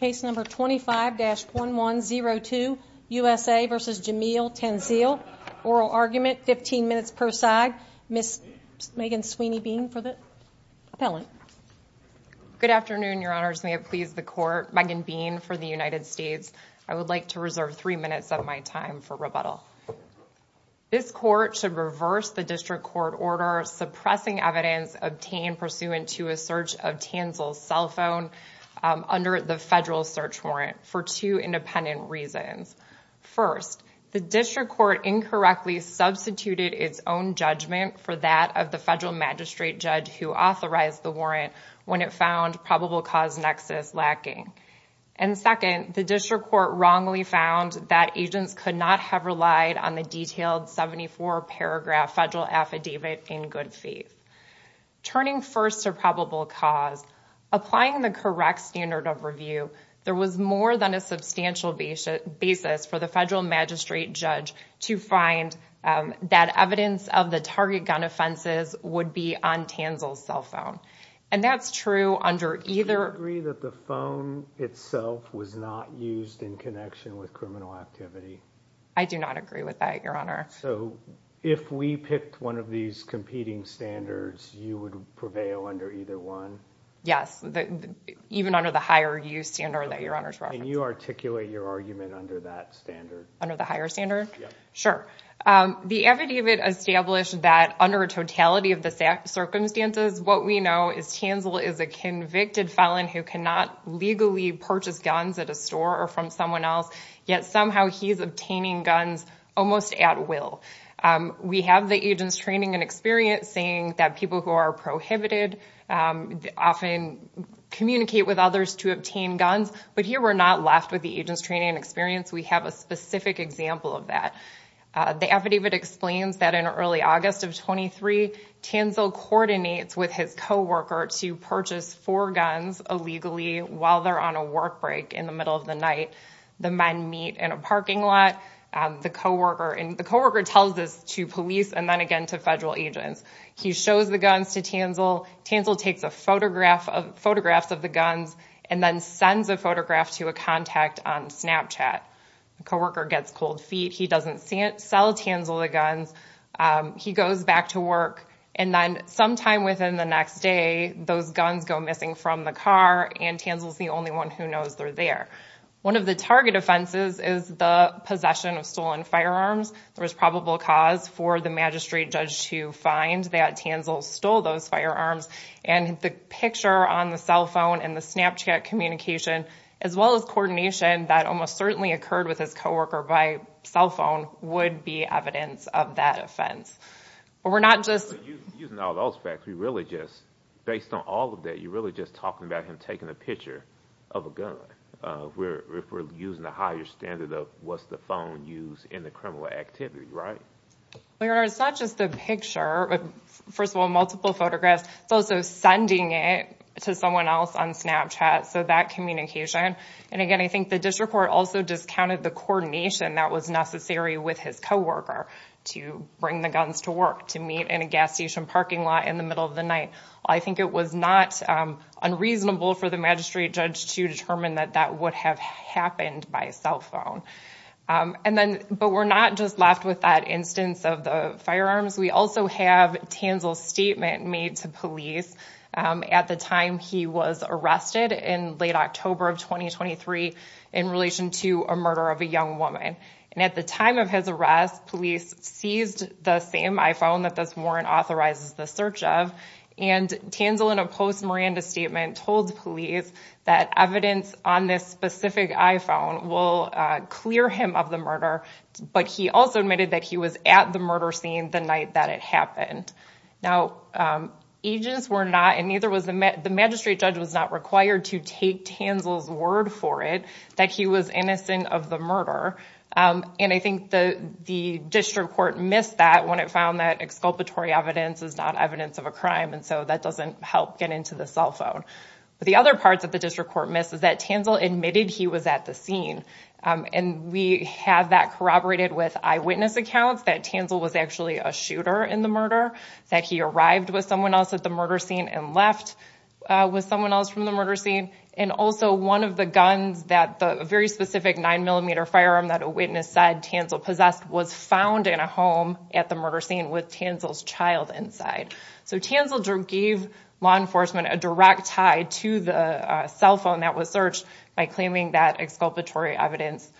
Case number 25-1102, USA v. Jameel Tanzil. Oral argument, 15 minutes per side. Ms. Megan Sweeney Bean for the appellant. Good afternoon, your honors. May it please the court. Megan Bean for the United States. I would like to reserve three minutes of my time for rebuttal. This court should reverse the district court order suppressing evidence obtained pursuant to a search of Tanzil's cell phone under the federal search warrant for two independent reasons. First, the district court incorrectly substituted its own judgment for that of the federal magistrate judge who authorized the warrant when it found probable cause nexus lacking. And second, the district court wrongly found that agents could not have relied on the detailed 74 paragraph federal affidavit in good faith. Turning first to probable cause, applying the correct standard of review, there was more than a substantial basis for the federal magistrate judge to find that evidence of the target gun offenses would be on Tanzil's cell phone. And that's true under either- Do you agree that the phone itself was not used in connection with criminal activity? I do not agree with that, your honor. So if we picked one of these competing standards, you would prevail under either one? Yes. Even under the higher use standard that your honors- Can you articulate your argument under that standard? Under the higher standard? Sure. The affidavit established that under a totality of the circumstances, what we know is Tanzil is a convicted felon who cannot legally purchase guns at a store or from someone else, yet somehow he's obtaining guns almost at will. We have the agent's training and experience saying that people who are prohibited often communicate with others to obtain guns. But here we're not left with the agent's training and experience. We have a specific example of that. The affidavit explains that in early August of 23, Tanzil coordinates with his coworker to purchase four guns illegally while they're on a work break in the middle of the night. The men meet in a parking lot. The coworker tells this to police and then again to federal agents. He shows the guns to Tanzil. Tanzil takes photographs of the guns and then sends a photograph to a contact on Snapchat. The coworker gets cold feet. He doesn't sell Tanzil the guns. He goes back to work. And then sometime within the next day, those guns go missing from the car, and Tanzil's the only one who knows they're there. One of the target offenses is the possession of stolen firearms. There was probable cause for the magistrate judge to find that Tanzil stole those firearms. And the picture on the cell phone and the Snapchat communication, as well as coordination that almost certainly occurred with his coworker by cell phone, would be evidence of that offense. But we're not just... Using all those facts, we really just, based on all of that, you're really just talking about him taking a picture of a gun. If we're using a higher standard of what's the phone use in the criminal activity, right? Well, your honor, it's not just the picture. First of all, multiple photographs. It's also sending it to someone else on Snapchat. So that communication. And again, I think the district court also discounted the coordination that was necessary with his coworker to bring the guns to work, to meet in a gas station parking lot in the middle of the night. I think it was not unreasonable for the magistrate judge to determine that that would have happened by cell phone. But we're not just left with that instance of the firearms. We also have Tanzil's statement made to police at the time he was arrested in late October of 2023 in relation to murder of a young woman. And at the time of his arrest, police seized the same iPhone that this warrant authorizes the search of. And Tanzil, in a post-Miranda statement, told police that evidence on this specific iPhone will clear him of the murder. But he also admitted that he was at the murder scene the night that it happened. Now, agents were not, and neither was... The magistrate judge was not required to take Tanzil's word for it that he was innocent of the murder. And I think the district court missed that when it found that exculpatory evidence is not evidence of a crime. And so that doesn't help get into the cell phone. But the other parts that the district court missed is that Tanzil admitted he was at the scene. And we have that corroborated with eyewitness accounts that Tanzil was actually a shooter in the murder, that he arrived with someone else at the murder scene and left with someone else from the murder scene. And also one of the guns that the very specific nine millimeter firearm that a witness said Tanzil possessed was found in a home at the murder scene with Tanzil's child inside. So Tanzil gave law enforcement a direct tie to the cell phone that was searched by claiming that exculpatory evidence...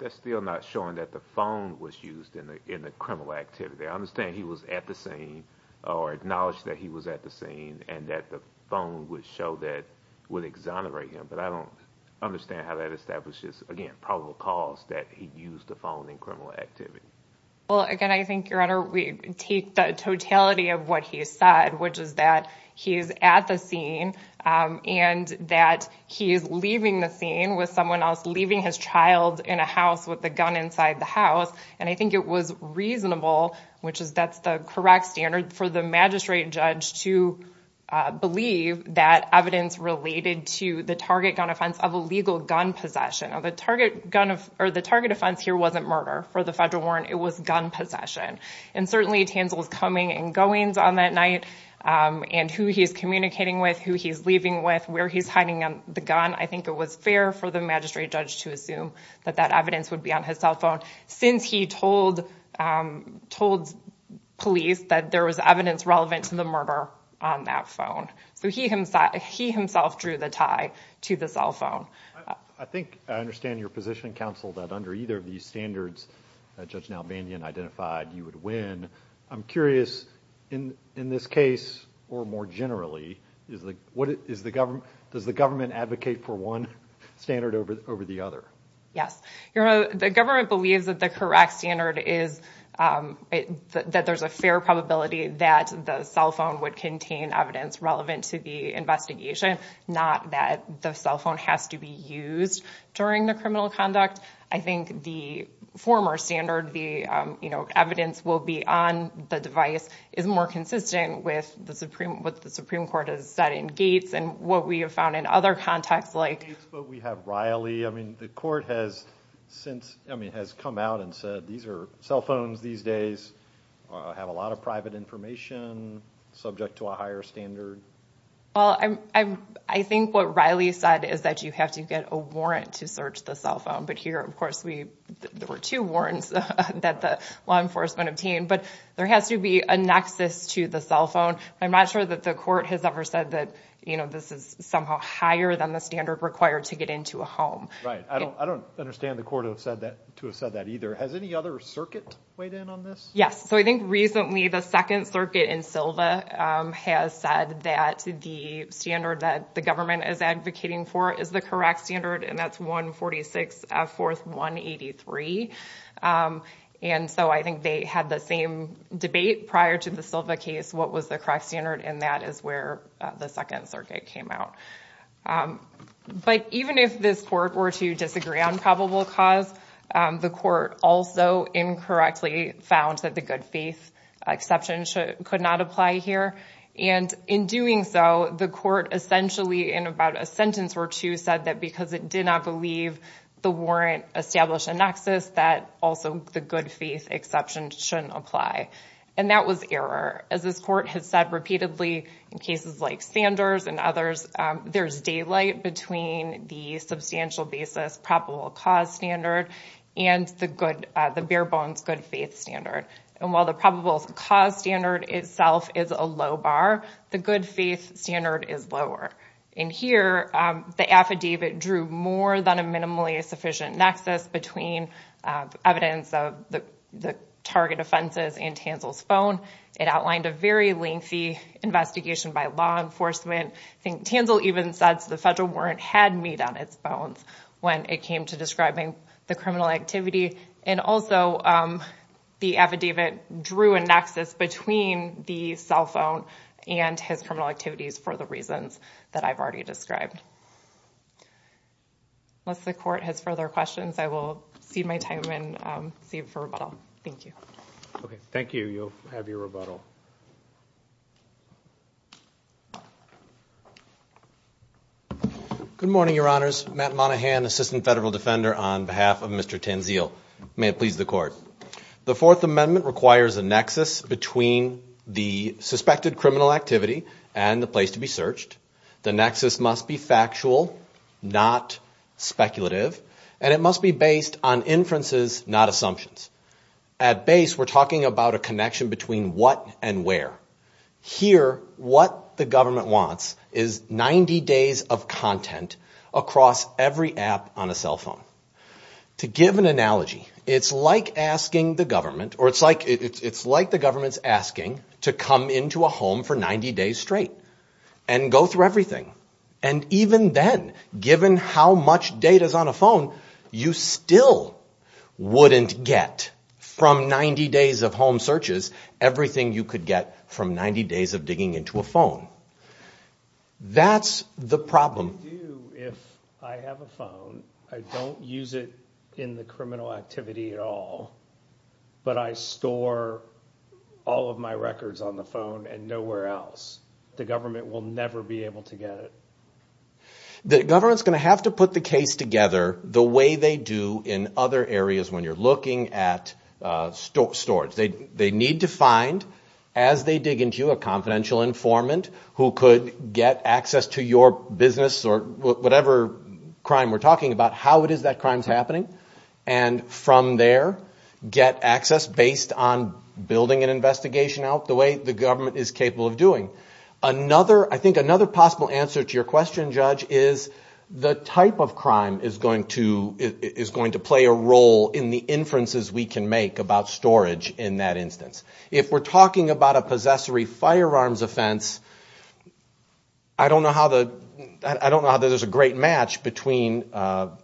That's still not showing that the phone was used in the criminal activity. I understand he was at the scene or acknowledged that he was at the scene and that the phone would show that would exonerate him. But I don't understand how that establishes, again, probable cause that he used the phone in criminal activity. Well, again, I think, Your Honor, we take the totality of what he said, which is that he's at the scene and that he is leaving the scene with someone else leaving his child in a house with the gun inside the house. And I think it was reasonable, which is that's the correct standard for the magistrate judge to believe that evidence related to the target gun offense of illegal gun possession. The target offense here wasn't murder for the federal warrant. It was gun possession. And certainly Tanzil's coming and going on that night and who he's communicating with, who he's leaving with, where he's hiding the gun. I think it was fair for the magistrate judge to assume that that evidence would be on his cell phone since he told police that there was evidence relevant to the murder on that phone. So he himself drew the tie to the cell phone. I think I understand your position, counsel, that under either of these standards that Judge Nalbandian identified you would win. I'm curious, in this case or more generally, does the government advocate for one standard over the other? Yes. The government believes that the correct standard is that there's a fair probability that the cell phone would contain evidence relevant to the investigation, not that the cell phone has to be used during the criminal conduct. I think the former standard, the evidence will be on the device, is more consistent with what the Supreme Court has said in Gates and what we have found in other contexts like... Gates, but we have Riley. The court has come out and said, these are cell phones these days, have a lot of private information, subject to a higher standard. Well, I think what Riley said is that you have to get a warrant to search the cell phone. But here, of course, there were two warrants that the law enforcement obtained, but there has to be a nexus to the cell phone. I'm not sure that the court has ever said that this is somehow higher than the standard required to get into a home. Right. I don't understand the court to have said that either. Has any other circuit weighed in on this? Yes. I think recently, the Second Circuit in Silva has said that the standard that the government is advocating for is the correct standard, and that's 146-4-183. I think they had the same debate prior to the Silva case, what was the correct standard, and that is where the Second Circuit came out. But even if this court were to disagree on probable cause, the court also incorrectly found that the good faith exception could not apply here. And in doing so, the court essentially, in about a sentence or two, said that because it did not believe the warrant established a nexus, that also the good faith exception shouldn't apply. And that was error. As this court has said repeatedly in cases like Sanders and others, there's daylight between the substantial basis probable cause standard and the good, the bare bones good faith standard. And while the probable cause standard itself is a low bar, the good faith standard is lower. In here, the affidavit drew more than a minimally sufficient nexus between evidence of the target offenses and Tanzil's phone. It outlined a very lengthy investigation by law enforcement. Tanzil even says the federal warrant had meat on its when it came to describing the criminal activity. And also, the affidavit drew a nexus between the cell phone and his criminal activities for the reasons that I've already described. Unless the court has further questions, I will cede my time and cede for rebuttal. Thank you. Okay. Thank you. You'll have your rebuttal. Good morning, Your Honors. Matt Monahan, Assistant Federal Defender on behalf of Mr. Tanzil. May it please the court. The Fourth Amendment requires a nexus between the suspected criminal activity and the place to be searched. The nexus must be factual, not speculative, and it must be based on inferences, not assumptions. At base, we're talking about a connection between what and where. Here, what the government wants is 90 days of content across every app on a cell phone. To give an analogy, it's like asking the government or it's like the government's asking to come into a home for 90 days straight and go through everything. And even then, given how much data is on a phone, you still wouldn't get from 90 days of home searches everything you could get from 90 days of digging into a phone. That's the problem. If I have a phone, I don't use it in the criminal activity at all, but I store all of my records on the phone and nowhere else. The government will never be able to get it. The government's going to have to put the case together the way they do in other areas when you're looking at storage. They need to find, as they dig into you, a confidential informant who could get access to your business or whatever crime we're talking about, how it is that crime's happening, and from there, get access based on building an investigation out the way the government is capable of doing. I think another possible answer to your question, Judge, is the type of crime is going to play a role in the inferences we can make about storage in that instance. If we're talking about a possessory firearms offense, I don't know how there's a great match between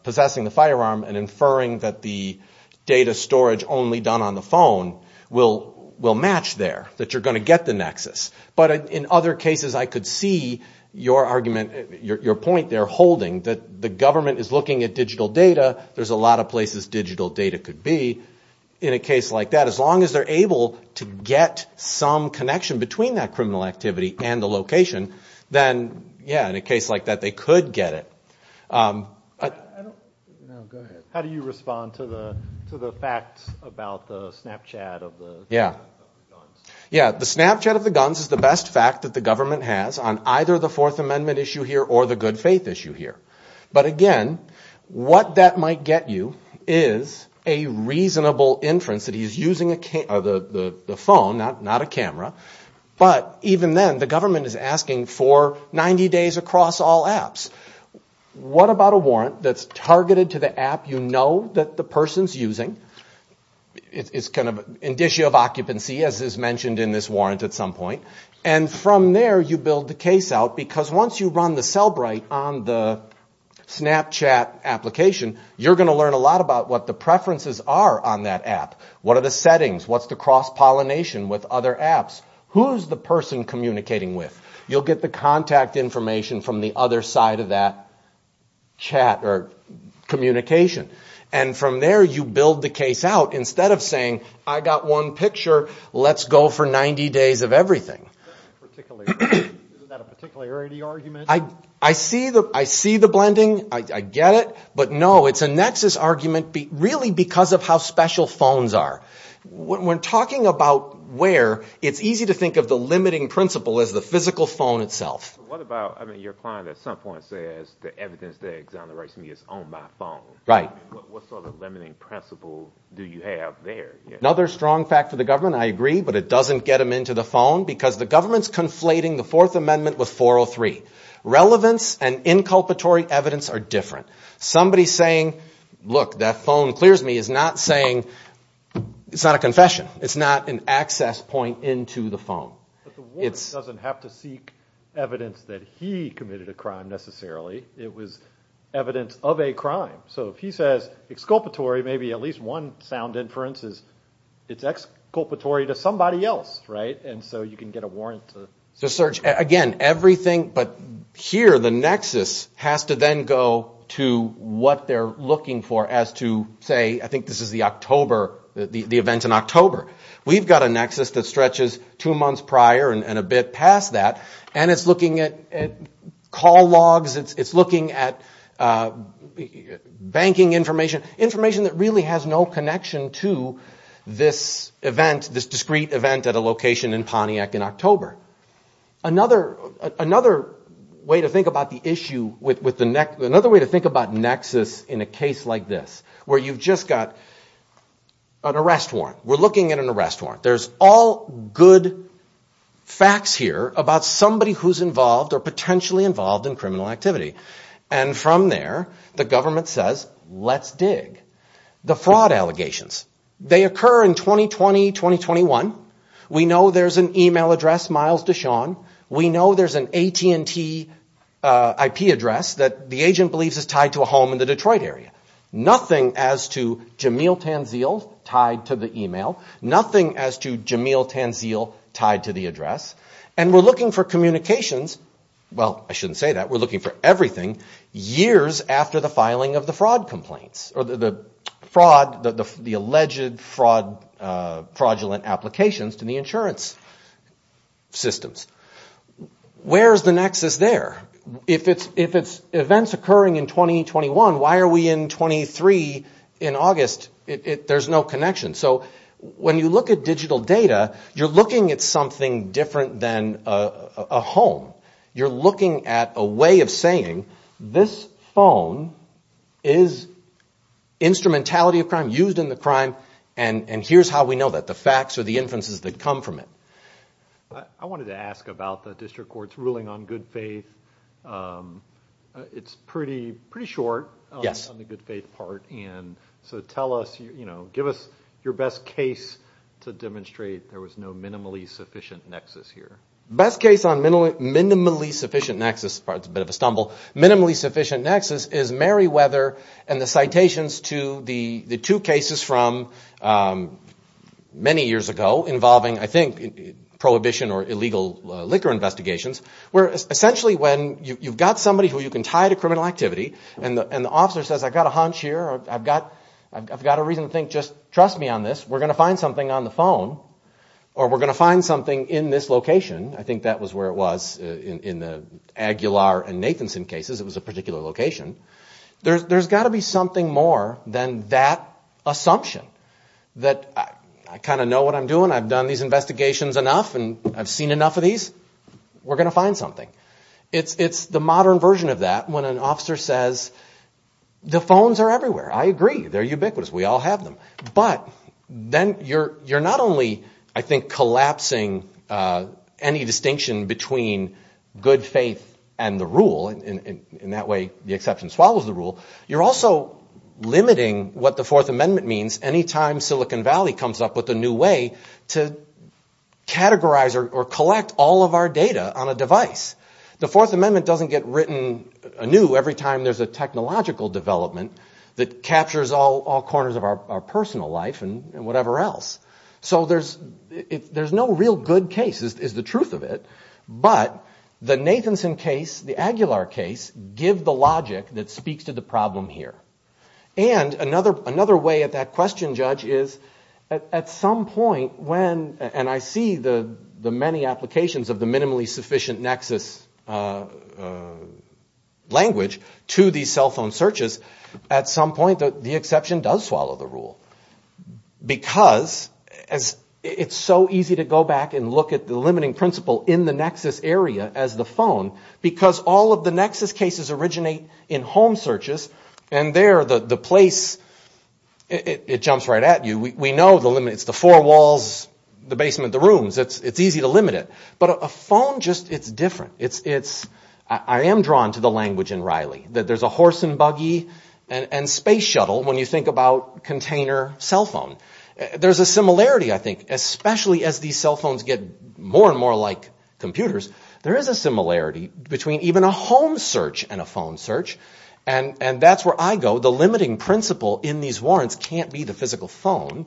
possessing the firearm and inferring that the data storage only done on the phone will match there, that you're going to get the nexus. But in other cases, I could see your argument, your point there holding that the government is looking at digital data. There's a lot of places digital data could be in a case like that. As long as they're able to get some connection between that criminal activity and the location, then yeah, in a case like that, they could get it. How do you respond to the facts about the Snapchat of the guns? Yeah. The Snapchat of the guns is the best fact that the government has on either the Fourth Amendment issue here or the good faith issue here. But again, what that might get you is a reasonable inference that he's using the phone, not a camera. But even then, the government is asking for 90 days across all apps. What about a warrant that's targeted to app you know that the person's using? It's kind of an issue of occupancy as is mentioned in this warrant at some point. And from there, you build the case out because once you run the Cellbrite on the Snapchat application, you're going to learn a lot about what the preferences are on that app. What are the settings? What's the cross-pollination with other apps? Who's the person communicating with? You'll get the contact information from the other side of that chat or communication. And from there, you build the case out instead of saying, I got one picture. Let's go for 90 days of everything. Is that a particularity argument? I see the blending. I get it. But no, it's a nexus argument really because of how special phones are. When talking about where, it's easy to think of the limiting principle as the physical phone itself. What about, I mean, your client at some point says the evidence that exonerates me is on my phone. What sort of limiting principle do you have there? Another strong fact for the government, I agree, but it doesn't get them into the phone because the government's conflating the Fourth Amendment with 403. Relevance and inculpatory evidence are different. Somebody saying, look, that phone clears me is not saying, it's not a confession. It's not an access point into the phone. The warrant doesn't have to seek evidence that he committed a crime necessarily. It was evidence of a crime. So if he says, exculpatory, maybe at least one sound inference is, it's exculpatory to somebody else, right? And so you can get a warrant to search. Again, everything, but here, the nexus has to then go to what they're looking for as to say, I think this is the October, the events in October. We've got a nexus that stretches two months prior and a bit past that, and it's looking at call logs. It's looking at banking information, information that really has no connection to this event, this discrete event at a location in Pontiac in October. Another way to think about the issue with the, another way to think about nexus in a case like this, where you've just got an arrest warrant. We're looking at an arrest warrant. There's all good facts here about somebody who's involved or potentially involved in criminal activity. And from there, the government says, let's dig. The fraud allegations, they occur in 2020, 2021. We know there's an email address, Miles DeShawn. We know there's an AT&T IP address that the agent believes is tied to a home in the Detroit area. Nothing as to Jamil Tanzil tied to the email, nothing as to Jamil Tanzil tied to the address. And we're looking for communications. Well, I shouldn't say that. We're looking for everything years after the filing of the fraud complaints or the fraud, the alleged fraud fraudulent applications to the insurance systems. Where's the nexus there? If it's events occurring in 2021, why are we in 23 in August? There's no connection. So when you look at digital data, you're looking at something different than a home. You're looking at a way of saying this phone is instrumentality of crime used in the crime. And here's how we know that the facts are the inferences that come from it. I wanted to ask about the district court's ruling on good faith. Um, it's pretty, pretty short on the good faith part. And so tell us, you know, give us your best case to demonstrate there was no minimally sufficient nexus here. Best case on minimally, minimally sufficient nexus, it's a bit of a stumble, minimally sufficient nexus is Meriwether and the citations to the two cases from many years ago involving, I think, prohibition or illegal liquor investigations, where essentially when you've got somebody who you can tie to criminal activity and the officer says, I've got a hunch here. I've got, I've got a reason to think, just trust me on this. We're going to find something on the phone or we're going to find something in this location. I think that was where it was in the Aguilar and Nathanson cases. It was a particular location. There's got to be something more than that assumption that I kind of know what I'm doing. I've done these investigations enough and I've seen enough of these. We're going to find something. It's, it's the modern version of that. When an officer says the phones are everywhere. I agree. They're ubiquitous. We all have them, but then you're, you're not only, I think, collapsing, uh, any distinction between good faith and the rule in that way, the exception swallows the rule. You're also limiting what the fourth amendment means. Anytime Silicon Valley comes up with a new way to categorize or collect all of our data on a device, the fourth amendment doesn't get written a new every time there's a technological development that captures all corners of our personal life and whatever else. So there's, there's no real good cases is the truth of it. But the Nathanson case, the Aguilar case give the logic that speaks to the problem here. And another, another way at that question judge is at some point when, and I see the, the many applications of the minimally sufficient nexus, uh, uh, language to the cell phone searches at some point, the exception does swallow the rule because as it's so easy to go back and look at the limiting principle in the nexus area as the phone, because all of the nexus cases originate in home searches and there, the, the place, it jumps right at you. We know the limit, it's the four walls, the basement, the rooms. It's, it's easy to limit it, but a phone just, it's different. It's, it's, I am drawn to the language in Riley that there's a horse and buggy and space shuttle. When you think about container cell phone, there's a similarity. I think, especially as these cell phones get more and more like computers, there is a similarity between even a home search and a phone search. And, and that's where I go. The limiting principle in these warrants can't be the physical phone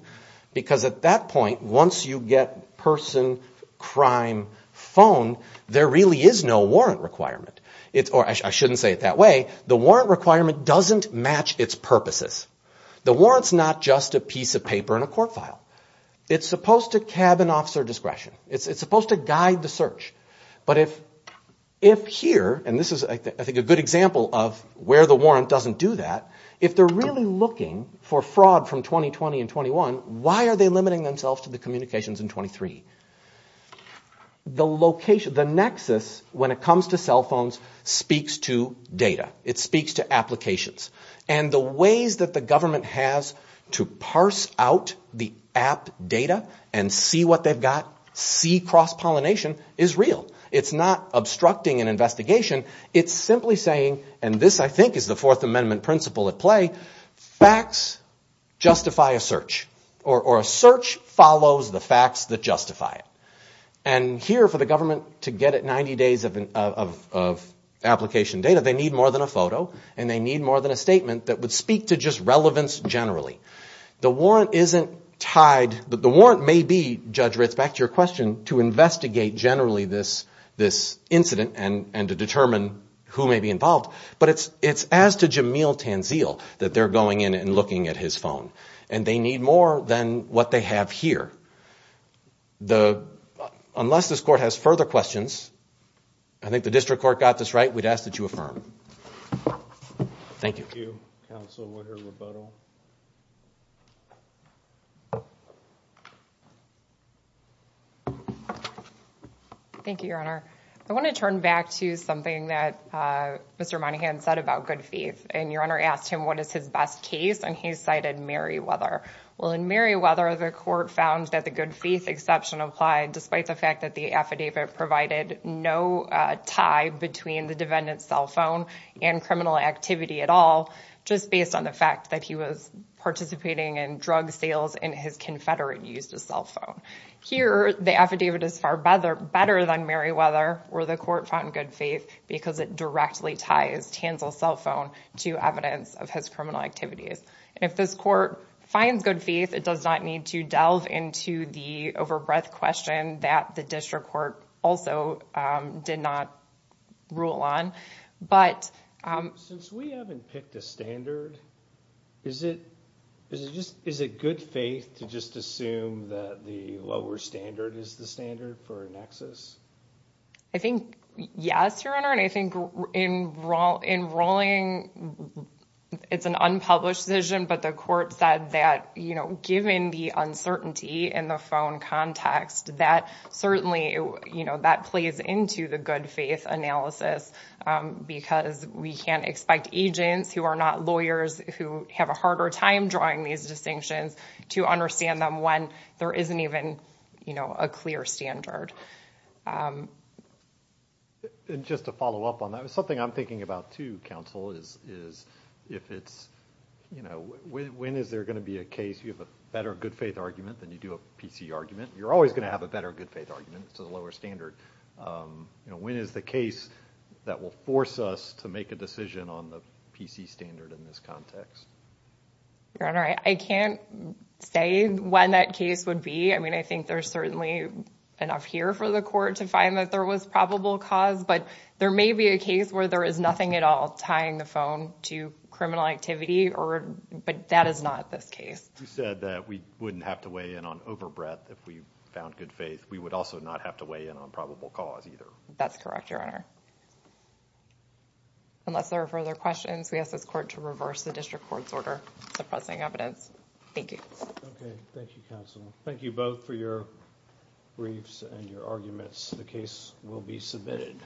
because at that point, once you get person, crime, phone, there really is no warrant requirement. It's, or I shouldn't say it that way. The warrant requirement doesn't match its purposes. The warrant's not just a piece of paper in a court file. It's supposed to cabin officer discretion. It's, it's supposed to guide the search. But if, if here, and this is I think a good example of where the warrant doesn't do that, if they're really looking for fraud from 2020 and 21, why are they limiting themselves to the communications in 23? The location, the nexus when it comes to cell phones speaks to data. It speaks to applications. And the ways that the government has to parse out the app data and see what they've got, see cross-pollination, is real. It's not obstructing an investigation. It's simply saying, and this I think is the Fourth Amendment principle at play, facts justify a search, or a search follows the facts that justify it. And here, for the government to get at 90 days of, of, of application data, they need more than a photo and they need more than a statement that would speak to just relevance generally. The warrant isn't tied, the warrant may be, Judge Ritz, back to your question, to investigate generally this, this incident and, and to determine who may be involved. But it's, it's as to Jamil Tanzil that they're going in and looking at his phone. And they need more than what they have here. The, unless this court has further questions, I think the district court got this right, we'd ask that you affirm. Thank you. Thank you, Counsel, for your rebuttal. Thank you, Your Honor. I want to turn back to something that Mr. Monahan said about good faith. And Your Honor asked him, what is his best case? And he cited Merriweather. Well, in Merriweather, the court found that the good faith exception applied despite the fact that the affidavit provided no tie between the defendant's cell phone and criminal activity at all, just based on the fact that he was participating in drug sales and his confederate used a cell phone. Here, the affidavit is far better, better than Merriweather where the court found good faith because it directly ties Tanzil's cell phone to evidence of his criminal activities. And if this finds good faith, it does not need to delve into the overbreadth question that the district court also did not rule on. But... Since we haven't picked a standard, is it good faith to just assume that the lower standard is the standard for Nexus? I think yes, Your Honor. And I think in rolling, it's an unpublished decision, but the court said that given the uncertainty in the phone context, that certainly, that plays into the good faith analysis because we can't expect agents who are not lawyers who have a harder time drawing these distinctions to understand them when there isn't even a clear standard. And just to follow up on that, something I'm thinking about too, counsel, is if it's, you know, when is there going to be a case you have a better good faith argument than you do a PC argument? You're always going to have a better good faith argument to the lower standard. When is the case that will force us to make a decision on the PC standard in this context? Your Honor, I can't say when that case would be. I mean, I think there's certainly enough here for the court to find that there was probable cause, but there may be a case where there is nothing at all tying the phone to criminal activity, but that is not this case. You said that we wouldn't have to weigh in on overbreadth if we found good faith. We would also not have to weigh in on probable cause either. That's correct, Your Honor. Unless there are further questions, we ask this court to reverse the district court's order suppressing evidence. Thank you. Okay, thank you, counsel. Thank you both for your briefs and your arguments. The case will be submitted.